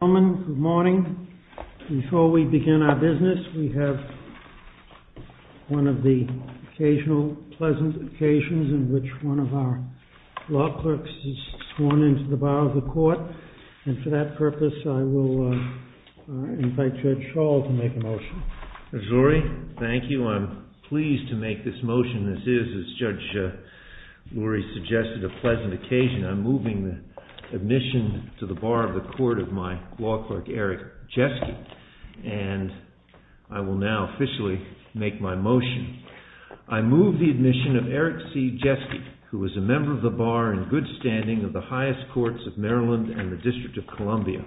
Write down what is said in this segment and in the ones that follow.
Good morning. Before we begin our business, we have one of the occasional pleasant occasions in which one of our law clerks is sworn into the bar of the court. And for that purpose, I will invite Judge Schall to make a motion. SCHALL Mr. Lurie, thank you. I'm pleased to make this motion. This is, as Judge Lurie suggested, a pleasant occasion. I'm moving the admission to the bar of the court of my law clerk, Eric Jeske, and I will now officially make my motion. I move the admission of Eric C. Jeske, who is a member of the bar in good standing of the highest courts of Maryland and the District of Columbia.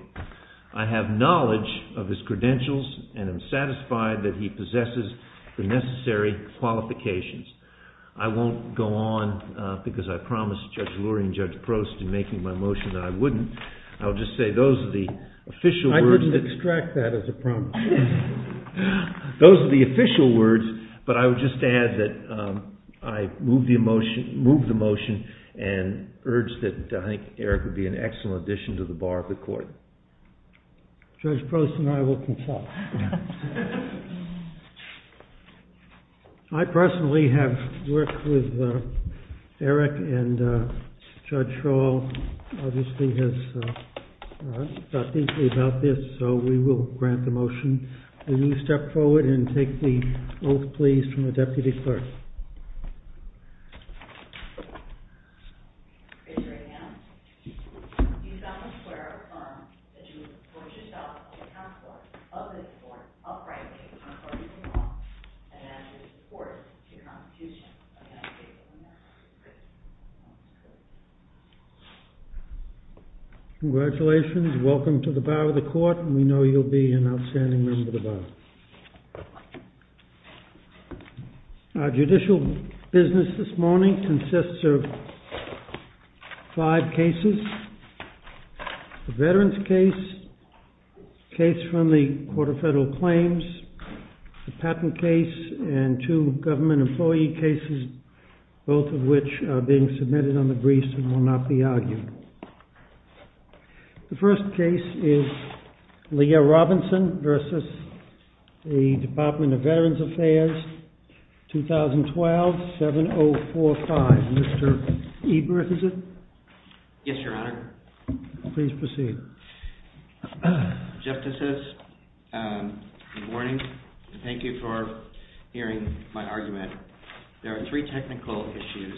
I have knowledge of his credentials and am satisfied that he possesses the necessary qualifications. I won't go on because I promised Judge Lurie and Judge Prost in making my motion that I wouldn't. I'll just say those are the official words that… PROST I couldn't extract that as a promise. SCHALL Those are the official words, but I would just add that I move the motion and urge that I think Eric would be an excellent addition to the bar of the court. PROST Judge Prost and I will consult. LURIE I personally have worked with Eric and Judge Schall obviously has thought deeply about this, so we will grant the motion. Will you step forward and take the oath, please, from the deputy clerk? PROST Congratulations. Welcome to the bar of the court and we know you'll be an outstanding member of the bar. Our judicial business this morning consists of five cases. The veterans case, the case from the Court of Federal Claims, the patent case and two government employee cases, both of which are being submitted on the briefs and will not be argued. The first case is Leah Robinson versus the Department of Veterans Affairs, 2012, 7045. Mr. Ebert, is it? EBERT Yes, Your Honor. LURIE Please proceed. EBERT Justices, good morning. Thank you for hearing my argument. There are three technical issues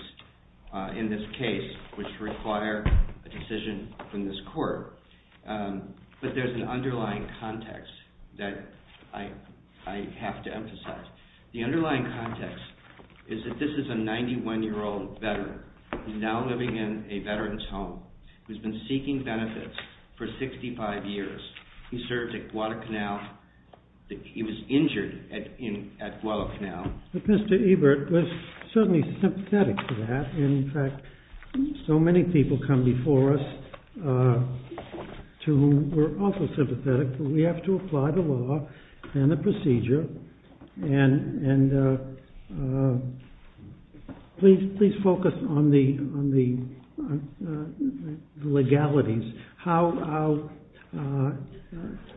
in this case which require a decision from this court, but there's an underlying context that I have to emphasize. The underlying context is that this is a 91-year-old veteran who's now living in a veteran's home, who's been seeking benefits for 65 years. He served at Guadalcanal. He was injured at Guadalcanal. But Mr. Ebert was certainly sympathetic to that and, in fact, so many people come before us to whom we're also sympathetic, but we have to apply the law and the procedure and please focus on the legalities, how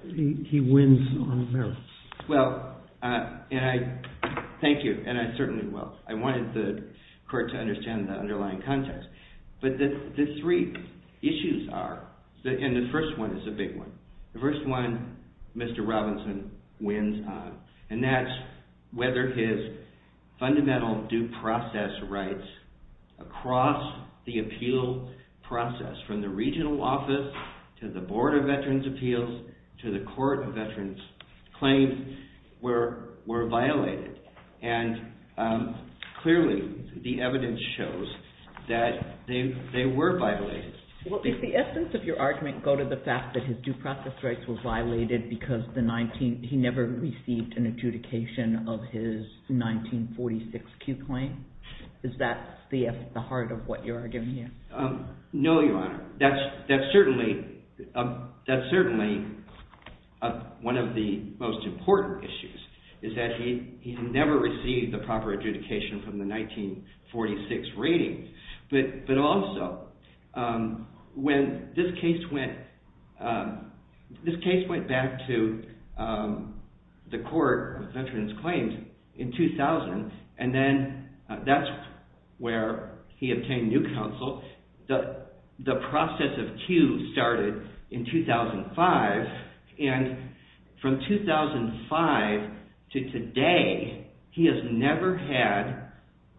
he wins on the merits. Thank you, and I certainly will. I wanted the court to understand the underlying context. But the three issues are, and the first one is a big one. The first one, Mr. Robinson wins on, and that's whether his fundamental due process rights across the appeal process from the regional office to the Board of Veterans' Appeals to the Court of Veterans' Claims were violated. And clearly, the evidence shows that they were violated. Well, did the essence of your argument go to the fact that his due process rights were violated because he never received an adjudication of his 1946 Q claim? Is that the heart of what you're arguing here? No, Your Honor. That's certainly one of the most important issues, is that he never received a proper adjudication from the 1946 ratings. But also, when this case went back to the Court of Veterans' Claims in 2000, and then that's where he obtained new counsel, the process of Q started in 2005. And from 2005 to today, he has never had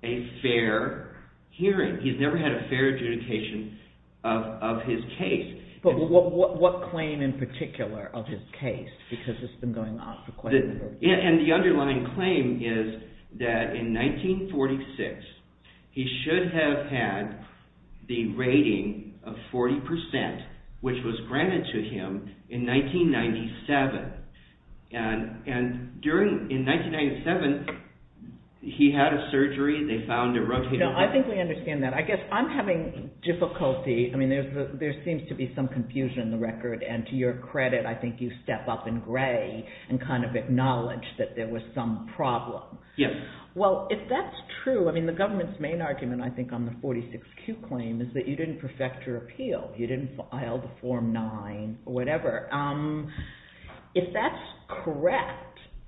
a fair hearing. He's never had a fair adjudication of his case. But what claim in particular of his case, because it's been going on for quite a number of years? And the underlying claim is that in 1946, he should have had the rating of 40%, which was granted to him in 1997. And in 1997, he had a surgery. They found a rotator cuff. I think we understand that. I guess I'm having difficulty. I mean, there seems to be some confusion in the record. And to your credit, I think you step up in gray and kind of acknowledge that there was some problem. Yes. Well, if that's true, I mean, the government's main argument, I think, on the 46Q claim is that you didn't perfect your appeal. You didn't file the Form 9 or whatever. If that's correct,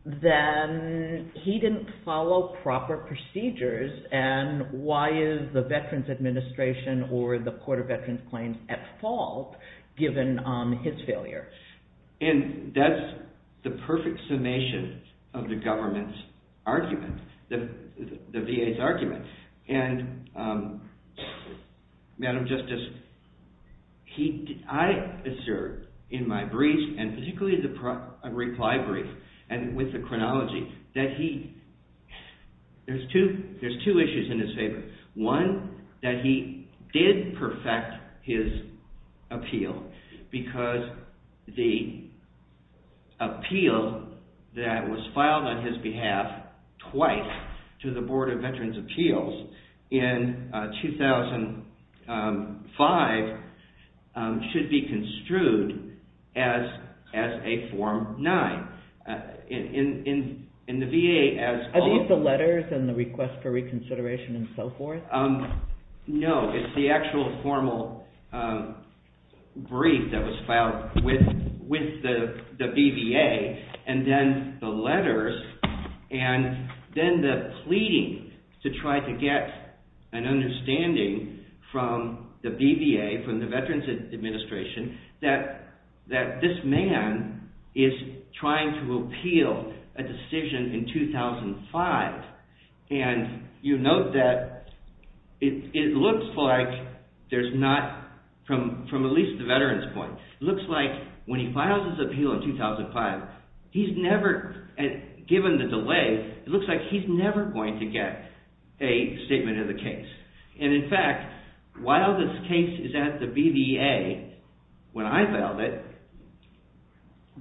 then he didn't follow proper procedures. And why is the Veterans Administration or the Court of Veterans' Claims at fault, given his failure? And that's the perfect summation of the government's argument, the VA's argument. And Madam Justice, I assert in my brief, and particularly the reply brief and with the chronology, that there's two issues in his favor. One, that he did perfect his appeal, because the appeal that was filed on his behalf twice to the Board of Veterans' Appeals in 2005 should be construed as a Form 9. In the VA, as— No, it's the actual formal brief that was filed with the BVA, and then the letters, and then the pleading to try to get an understanding from the BVA, from the Veterans Administration, that this man is trying to appeal a decision in 2005. And you note that it looks like there's not, from at least the veteran's point, it looks like when he files his appeal in 2005, he's never, given the delay, it looks like he's never going to get a statement of the case. And in fact, while this case is at the BVA, when I filed it,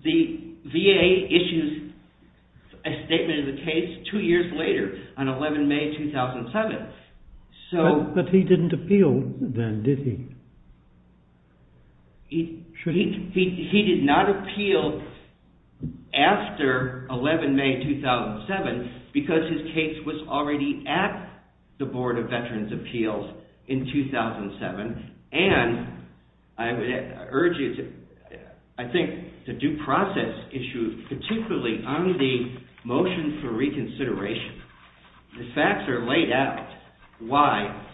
the VA issues a statement of the case two years later, on 11 May 2007. But he didn't appeal then, did he? He did not appeal after 11 May 2007, because his case was already at the Board of Veterans' Appeals in 2007. And I would urge you to, I think, the due process issue, particularly on the motion for reconsideration, the facts are laid out why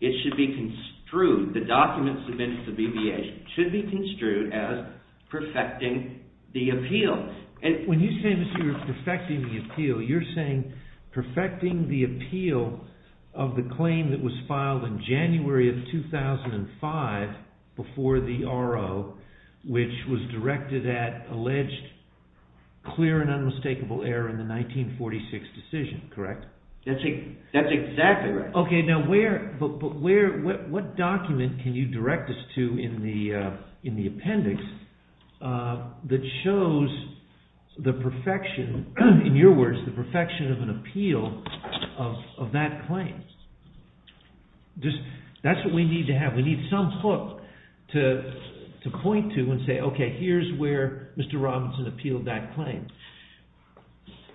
it should be construed, the documents submitted to the BVA, should be construed as perfecting the appeal. In 2005, before the RO, which was directed at alleged clear and unmistakable error in the 1946 decision, correct? That's exactly right. Okay, but what document can you direct us to in the appendix that shows the perfection, in your words, the perfection of an appeal of that claim? That's what we need to have. We need some hook to point to and say, okay, here's where Mr. Robinson appealed that claim.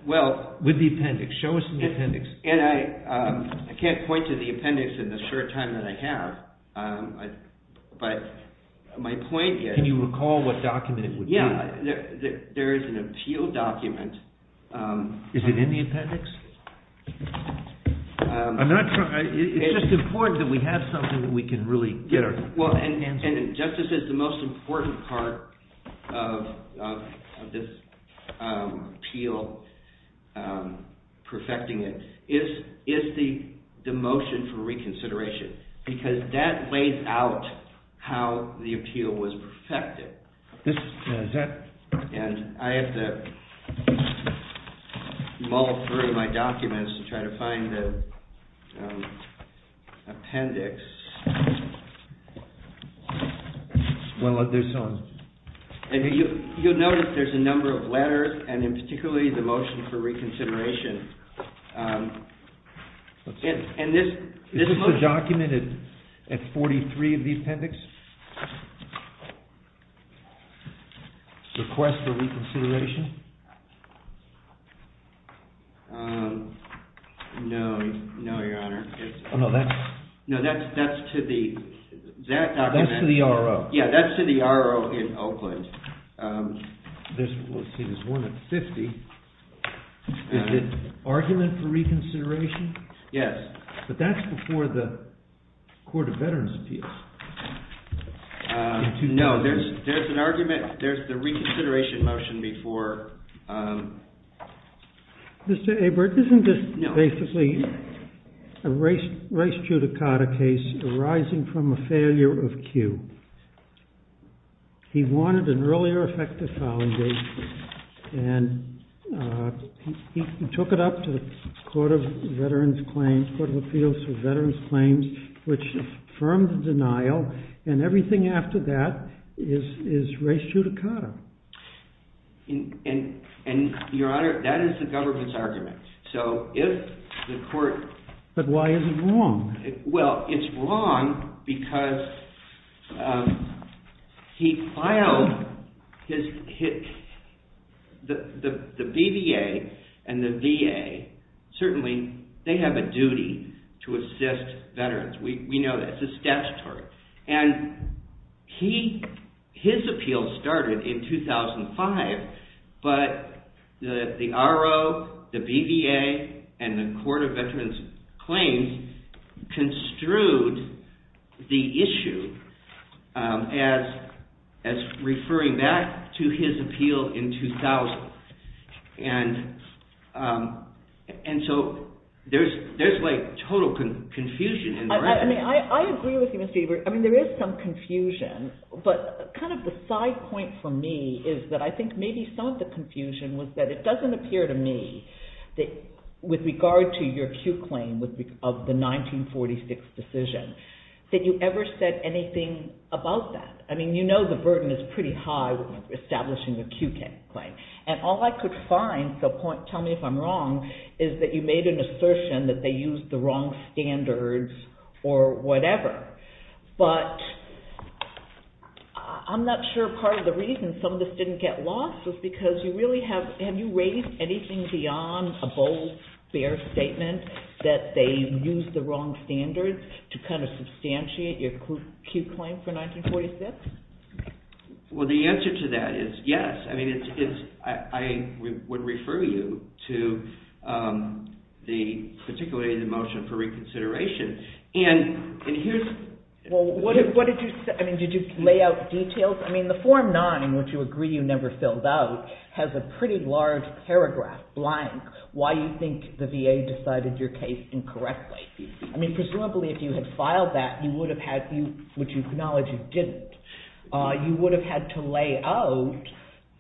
Well... With the appendix, show us the appendix. And I can't point to the appendix in the short time that I have, but my point is... Can you recall what document it would be? Yeah, there is an appeal document... Is it in the appendix? I'm not sure, it's just important that we have something that we can really get our... ...is the motion for reconsideration, because that lays out how the appeal was perfected. And I have to mull through my documents to try to find the appendix. Well, there's some... You'll notice there's a number of letters, and in particular the motion for reconsideration. Is this the document at 43 of the appendix? Request for reconsideration? No, no, your honor. No, that's to the... That's to the R.O. Yeah, that's to the R.O. in Oakland. Let's see, there's one at 50. Is it argument for reconsideration? Yes. But that's before the Court of Veterans Appeals. No, there's an argument, there's the reconsideration motion before... Mr. Abert, isn't this basically a race judicata case arising from a failure of Q? He wanted an earlier effective filing date, and he took it up to the Court of Veterans Claims, Court of Appeals for Veterans Claims, which affirmed the denial, and everything after that is race judicata. And, your honor, that is the government's argument. So, if the court... But why is it wrong? Well, it's wrong because he filed his... The BVA and the VA, certainly, they have a duty to assist veterans. We know that. It's a statutory. And his appeal started in 2005, but the R.O., the BVA, and the Court of Veterans Claims construed the issue as referring back to his appeal in 2000. And so, there's like total confusion. I agree with you, Mr. Abert. I mean, there is some confusion. But, kind of the side point for me is that I think maybe some of the confusion was that it doesn't appear to me that, with regard to your Q claim of the 1946 decision, that you ever said anything about that. I mean, you know the burden is pretty high with establishing a Q claim. And all I could find, so tell me if I'm wrong, is that you made an assertion that they used the wrong standards or whatever. But, I'm not sure part of the reason some of this didn't get lost was because you really have... Have you raised anything beyond a bold, fair statement that they used the wrong standards to kind of substantiate your Q claim for 1946? Well, the answer to that is yes. I mean, I would refer you to particularly the motion for reconsideration. And, here's... Well, what did you say? I mean, did you lay out details? I mean, the Form 9, which you agree you never filled out, has a pretty large paragraph, blank, why you think the VA decided your case incorrectly. I mean, presumably if you had filed that, you would have had... Which you acknowledge you didn't. You would have had to lay out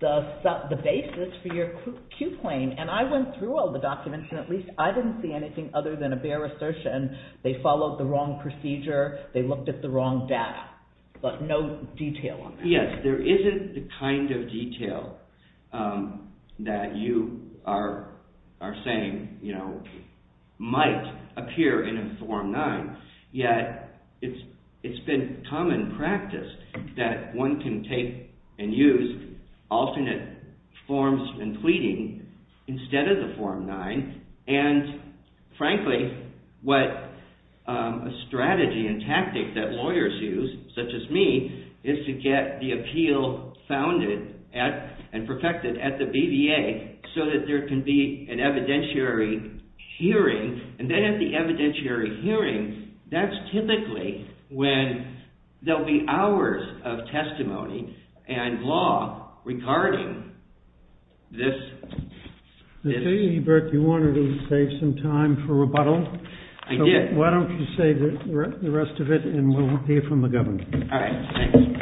the basis for your Q claim. And I went through all the documents, and at least I didn't see anything other than a bare assertion they followed the wrong procedure, they looked at the wrong data. But no detail on that. Yes, there isn't the kind of detail that you are saying, you know, might appear in a Form 9. Yet, it's been common practice that one can take and use alternate forms and pleading instead of the Form 9. And, frankly, what a strategy and tactic that lawyers use, such as me, is to get the appeal founded and perfected at the BVA so that there can be an evidentiary hearing. And then at the evidentiary hearing, that's typically when there will be hours of testimony and law regarding this. I tell you, Bert, you wanted to save some time for rebuttal. I did. Why don't you save the rest of it, and we'll hear from the Governor. All right, thanks. Thank you.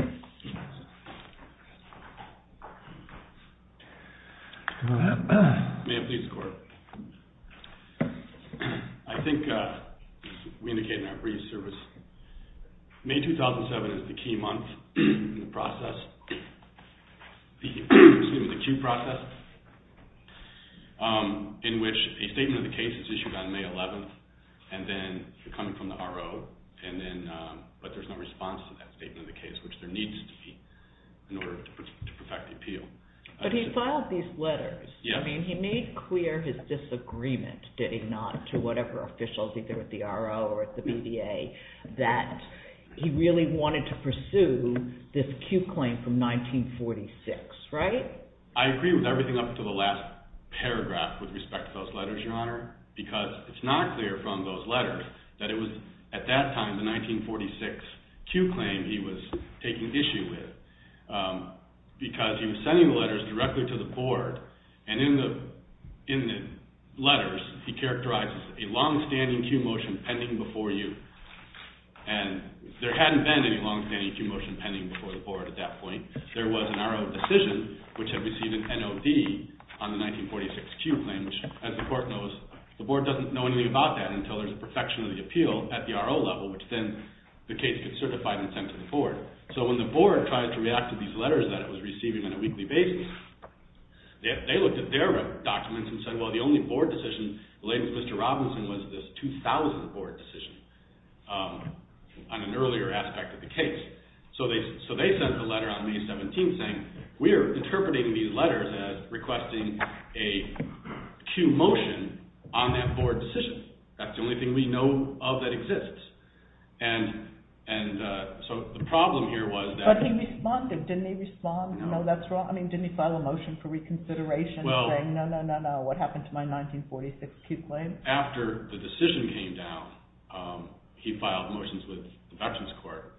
May I please, Court? I think we indicated in our brief service, May 2007 is the key month in the process, excuse me, the queue process, in which a statement of the case is issued on May 11th, and then you're coming from the RO, but there's no response to that statement of the case, which there needs to be in order to perfect the appeal. But he filed these letters. Yes. I mean, he made clear his disagreement, did he not, to whatever officials, either at the RO or at the BVA, that he really wanted to pursue this queue claim from 1946, right? I agree with everything up to the last paragraph with respect to those letters, Your Honor, because it's not clear from those letters that it was at that time, the 1946 queue claim, he was taking issue with, because he was sending the letters directly to the Board, and in the letters he characterizes a long-standing queue motion pending before you. And there hadn't been any long-standing queue motion pending before the Board at that point. There was an RO decision, which had received an NOD on the 1946 queue claim, which as the Court knows, the Board doesn't know anything about that until there's a perfection of the appeal at the RO level, which then the case gets certified and sent to the Board. So when the Board tries to react to these letters that it was receiving on a weekly basis, they looked at their documents and said, well, the only Board decision, the latest Mr. Robinson was this 2000 Board decision on an earlier aspect of the case. So they sent the letter on May 17th saying, we are interpreting these letters as requesting a queue motion on that Board decision. That's the only thing we know of that exists. And so the problem here was that— But he responded. Didn't he respond? No. No, that's wrong. I mean, didn't he file a motion for reconsideration saying, no, no, no, no, what happened to my 1946 queue claim? After the decision came down, he filed motions with the Vectors Court.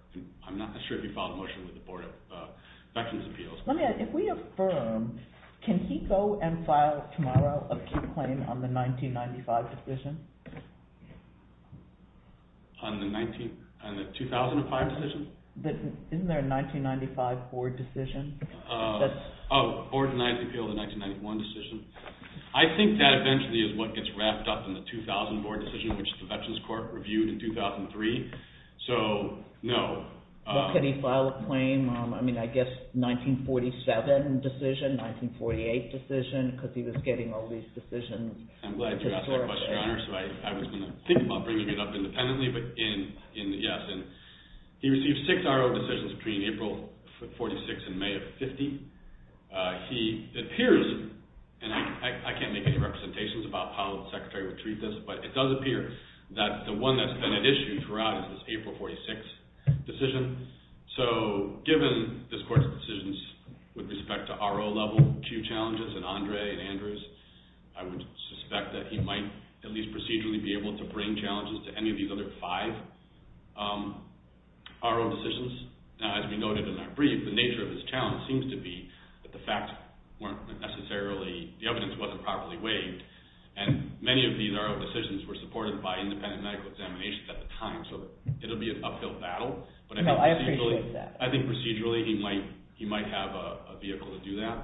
I'm not sure if he filed a motion with the Board of Vectors Appeals. Let me ask, if we affirm, can he go and file tomorrow a queue claim on the 1995 decision? On the 19—on the 2005 decision? Isn't there a 1995 Board decision? Oh, Board of Vectors Appeals, the 1991 decision. I think that eventually is what gets wrapped up in the 2000 Board decision, which the Vectors Court reviewed in 2003. So, no. Well, could he file a claim, I mean, I guess, 1947 decision, 1948 decision, because he was getting all these decisions— I'm glad you asked that question, Your Honor, so I was going to think about bringing it up independently, but in—yes. And he received six RO decisions between April of 46 and May of 50. He appears—and I can't make any representations about how the Secretary would treat this, but it does appear that the one that's been at issue throughout is this April 46 decision. So, given this Court's decisions with respect to RO-level queue challenges in Andre and Andrews, I would suspect that he might at least procedurally be able to bring challenges to any of these other five RO decisions. Now, as we noted in our brief, the nature of this challenge seems to be that the facts weren't necessarily— and many of these RO decisions were supported by independent medical examinations at the time, so it'll be an uphill battle, but I think procedurally— No, I appreciate that. I think procedurally he might have a vehicle to do that,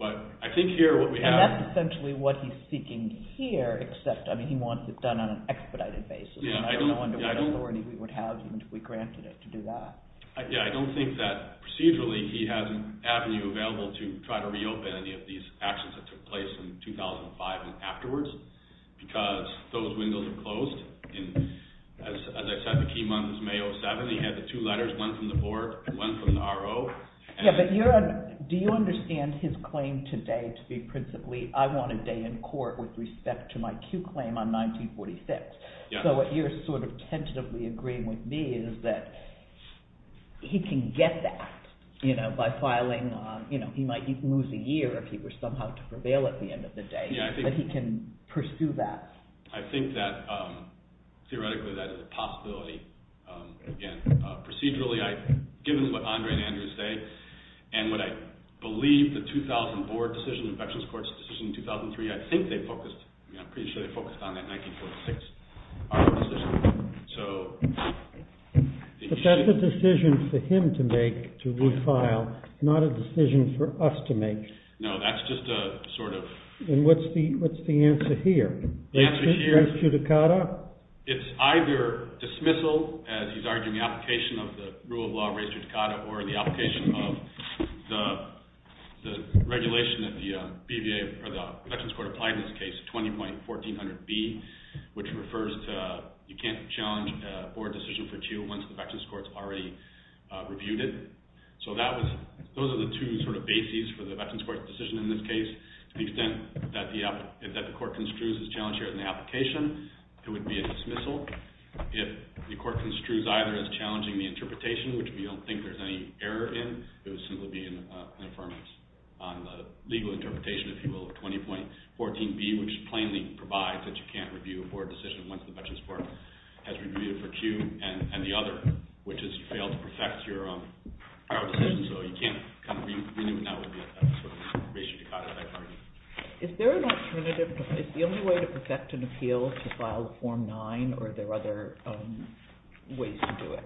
but I think here what we have— And that's essentially what he's seeking here, except, I mean, he wants it done on an expedited basis. I don't know under what authority we would have, even if we granted it, to do that. Yes, I don't think that procedurally he has an avenue available to try to reopen any of these actions that took place in 2005 and afterwards, because those windows are closed. As I said, the key month was May 07. He had the two letters, one from the Board and one from the RO. Yes, but do you understand his claim today to be principally, I want a day in court with respect to my queue claim on 1946? Yes. So what you're sort of tentatively agreeing with me is that he can get that by filing— he might lose a year if he were somehow to prevail at the end of the day. Yes, I think— That he can pursue that. I think that theoretically that is a possibility. Again, procedurally, given what Andre and Andrew say, and what I believe the 2004 decision in Veterans Courts, the decision in 2003, I think they focused—I'm pretty sure they focused on that 1946 decision. So— But that's a decision for him to make, to file, not a decision for us to make. No, that's just a sort of— And what's the answer here? The answer here— Res judicata? It's either dismissal, as he's arguing, the application of the rule of law, res judicata, or the application of the regulation that the VA or the Veterans Court applied in this case, 20.14.B, which refers to— You can't challenge a board decision for two once the Veterans Court's already reviewed it. So that was— Those are the two sort of bases for the Veterans Court's decision in this case. To the extent that the court construes this challenge here in the application, it would be a dismissal. If the court construes either as challenging the interpretation, which we don't think there's any error in, it would simply be an affirmance on the legal interpretation, if you will, of 20.14.B, which plainly provides that you can't review a board decision once the Veterans Court has reviewed it for two and the other, which has failed to perfect your decision, so you can't renew it, and that would be a sort of res judicata, as I argue. Is there an alternative? Is the only way to perfect an appeal to file Form 9, or are there other ways to do it,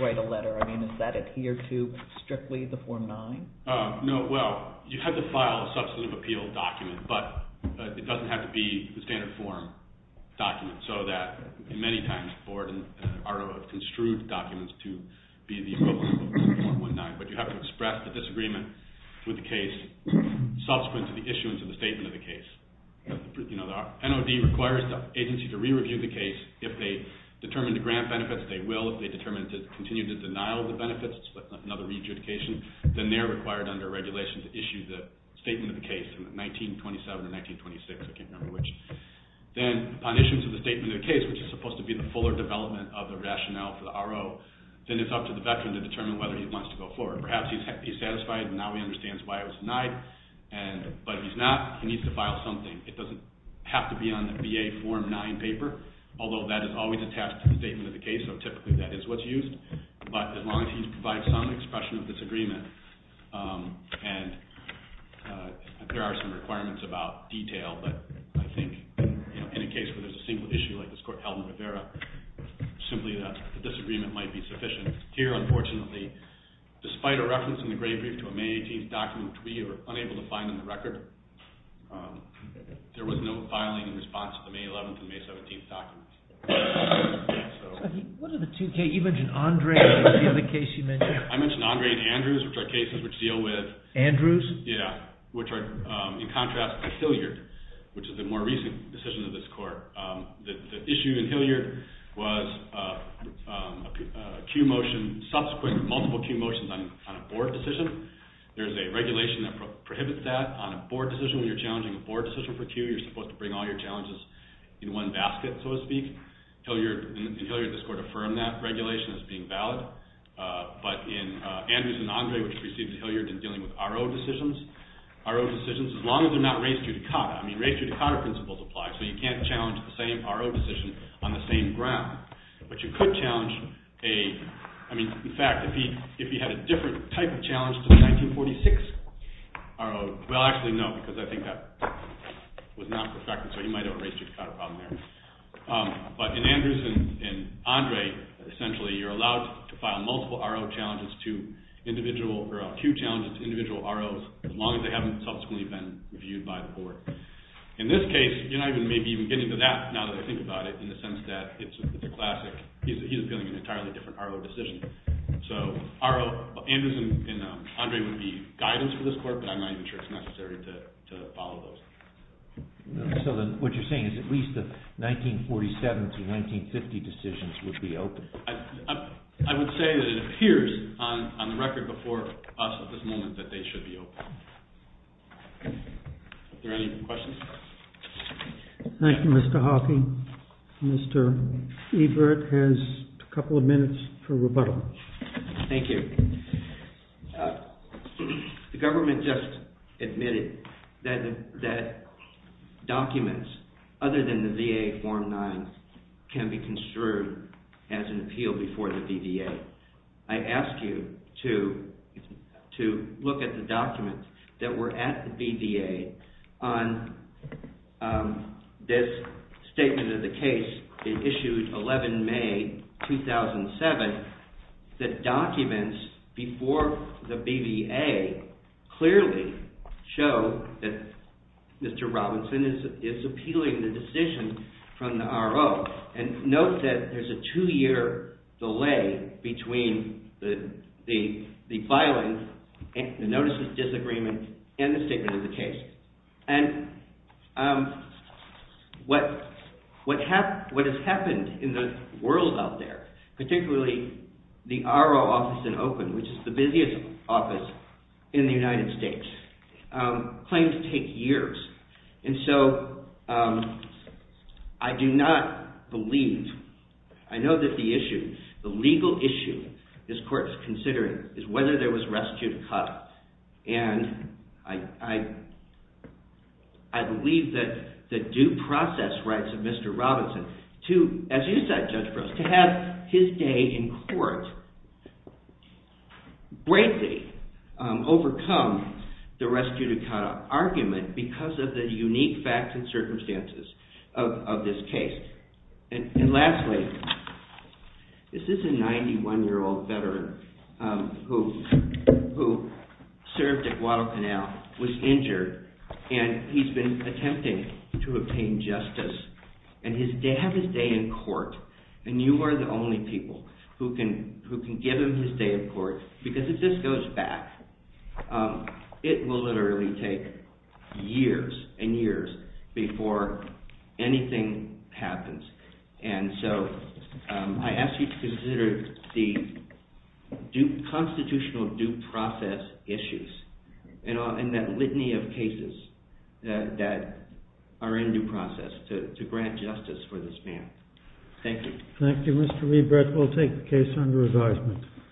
write a letter? I mean, does that adhere to strictly the Form 9? No. Well, you have to file a substantive appeal document, but it doesn't have to be the standard form document, so that many times the board and RO have construed documents to be the equivalent of Form 1.9, but you have to express the disagreement with the case subsequent to the issuance of the statement of the case. You know, the NOD requires the agency to re-review the case. If they determine to grant benefits, they will. If they determine to continue to denial the benefits, which is another re-judication, then they're required under regulation to issue the statement of the case from 1927 to 1926, I can't remember which. Then, upon issuance of the statement of the case, which is supposed to be the fuller development of the rationale for the RO, then it's up to the veteran to determine whether he wants to go forward. Perhaps he's satisfied and now he understands why it was denied, but if he's not, he needs to file something. It doesn't have to be on the VA Form 9 paper, although that is always attached to the statement of the case, so typically that is what's used, but as long as you provide some expression of disagreement, and there are some requirements about detail, but I think in a case where there's a single issue like this court held in Rivera, simply the disagreement might be sufficient. Here, unfortunately, despite a reference in the grave brief to a May 18th document which we were unable to find in the record, there was no filing in response to the May 11th and May 17th documents. What are the two cases? You mentioned Andre and what was the other case you mentioned? I mentioned Andre and Andrews, which are cases which deal with… Andrews? Yeah, which are in contrast to Hilliard, which is a more recent decision of this court. The issue in Hilliard was a subsequent multiple Q motions on a board decision. There's a regulation that prohibits that on a board decision. When you're challenging a board decision for Q, you're supposed to bring all your challenges in one basket, so to speak. In Hilliard, this court affirmed that regulation as being valid, but in Andrews and Andre, which preceded Hilliard in dealing with R.O. decisions, R.O. decisions, as long as they're not race judicata, I mean race judicata principles apply, so you can't challenge the same R.O. decision on the same ground, but you could challenge a… I mean, in fact, if you had a different type of challenge to the 1946 R.O., well, actually, no, because I think that was not perfect, so you might have a race judicata problem there. But in Andrews and Andre, essentially, you're allowed to file multiple R.O. challenges to individual… or Q challenges to individual R.O.s as long as they haven't subsequently been reviewed by the court. In this case, you're not even maybe even getting to that, now that I think about it, in the sense that it's a classic… he's appealing an entirely different R.O. decision. So Andrews and Andre would be guidance for this court, but I'm not even sure it's necessary to follow those. So then what you're saying is at least the 1947 to 1950 decisions would be open? I would say that it appears on the record before us at this moment that they should be open. Are there any questions? Thank you, Mr. Hawking. Mr. Ebert has a couple of minutes for rebuttal. Thank you. The government just admitted that documents other than the VA Form 9 can be construed as an appeal before the BVA. I ask you to look at the documents that were at the BVA on this statement of the case. It issued 11 May 2007. The documents before the BVA clearly show that Mr. Robinson is appealing the decision from the R.O. And note that there's a two-year delay between the filing, the notice of disagreement, and the statement of the case. And what has happened in the world out there, particularly the R.O. office in Oakland, which is the busiest office in the United States, claims to take years. And so I do not believe, I know that the issue, the legal issue this court is considering is whether there was a restituted cut. And I believe that the due process rights of Mr. Robinson, as you said, Judge Gross, to have his day in court greatly overcome the restituted cut argument because of the unique facts and circumstances of this case. And lastly, this is a 91-year-old veteran who served at Guadalcanal, was injured, and he's been attempting to obtain justice and have his day in court. And you are the only people who can give him his day in court because if this goes back, it will literally take years and years before anything happens. And so I ask you to consider the constitutional due process issues and that litany of cases that are in due process to grant justice for this man. Thank you. Thank you, Mr. Liebrecht. We'll take the case under advisement.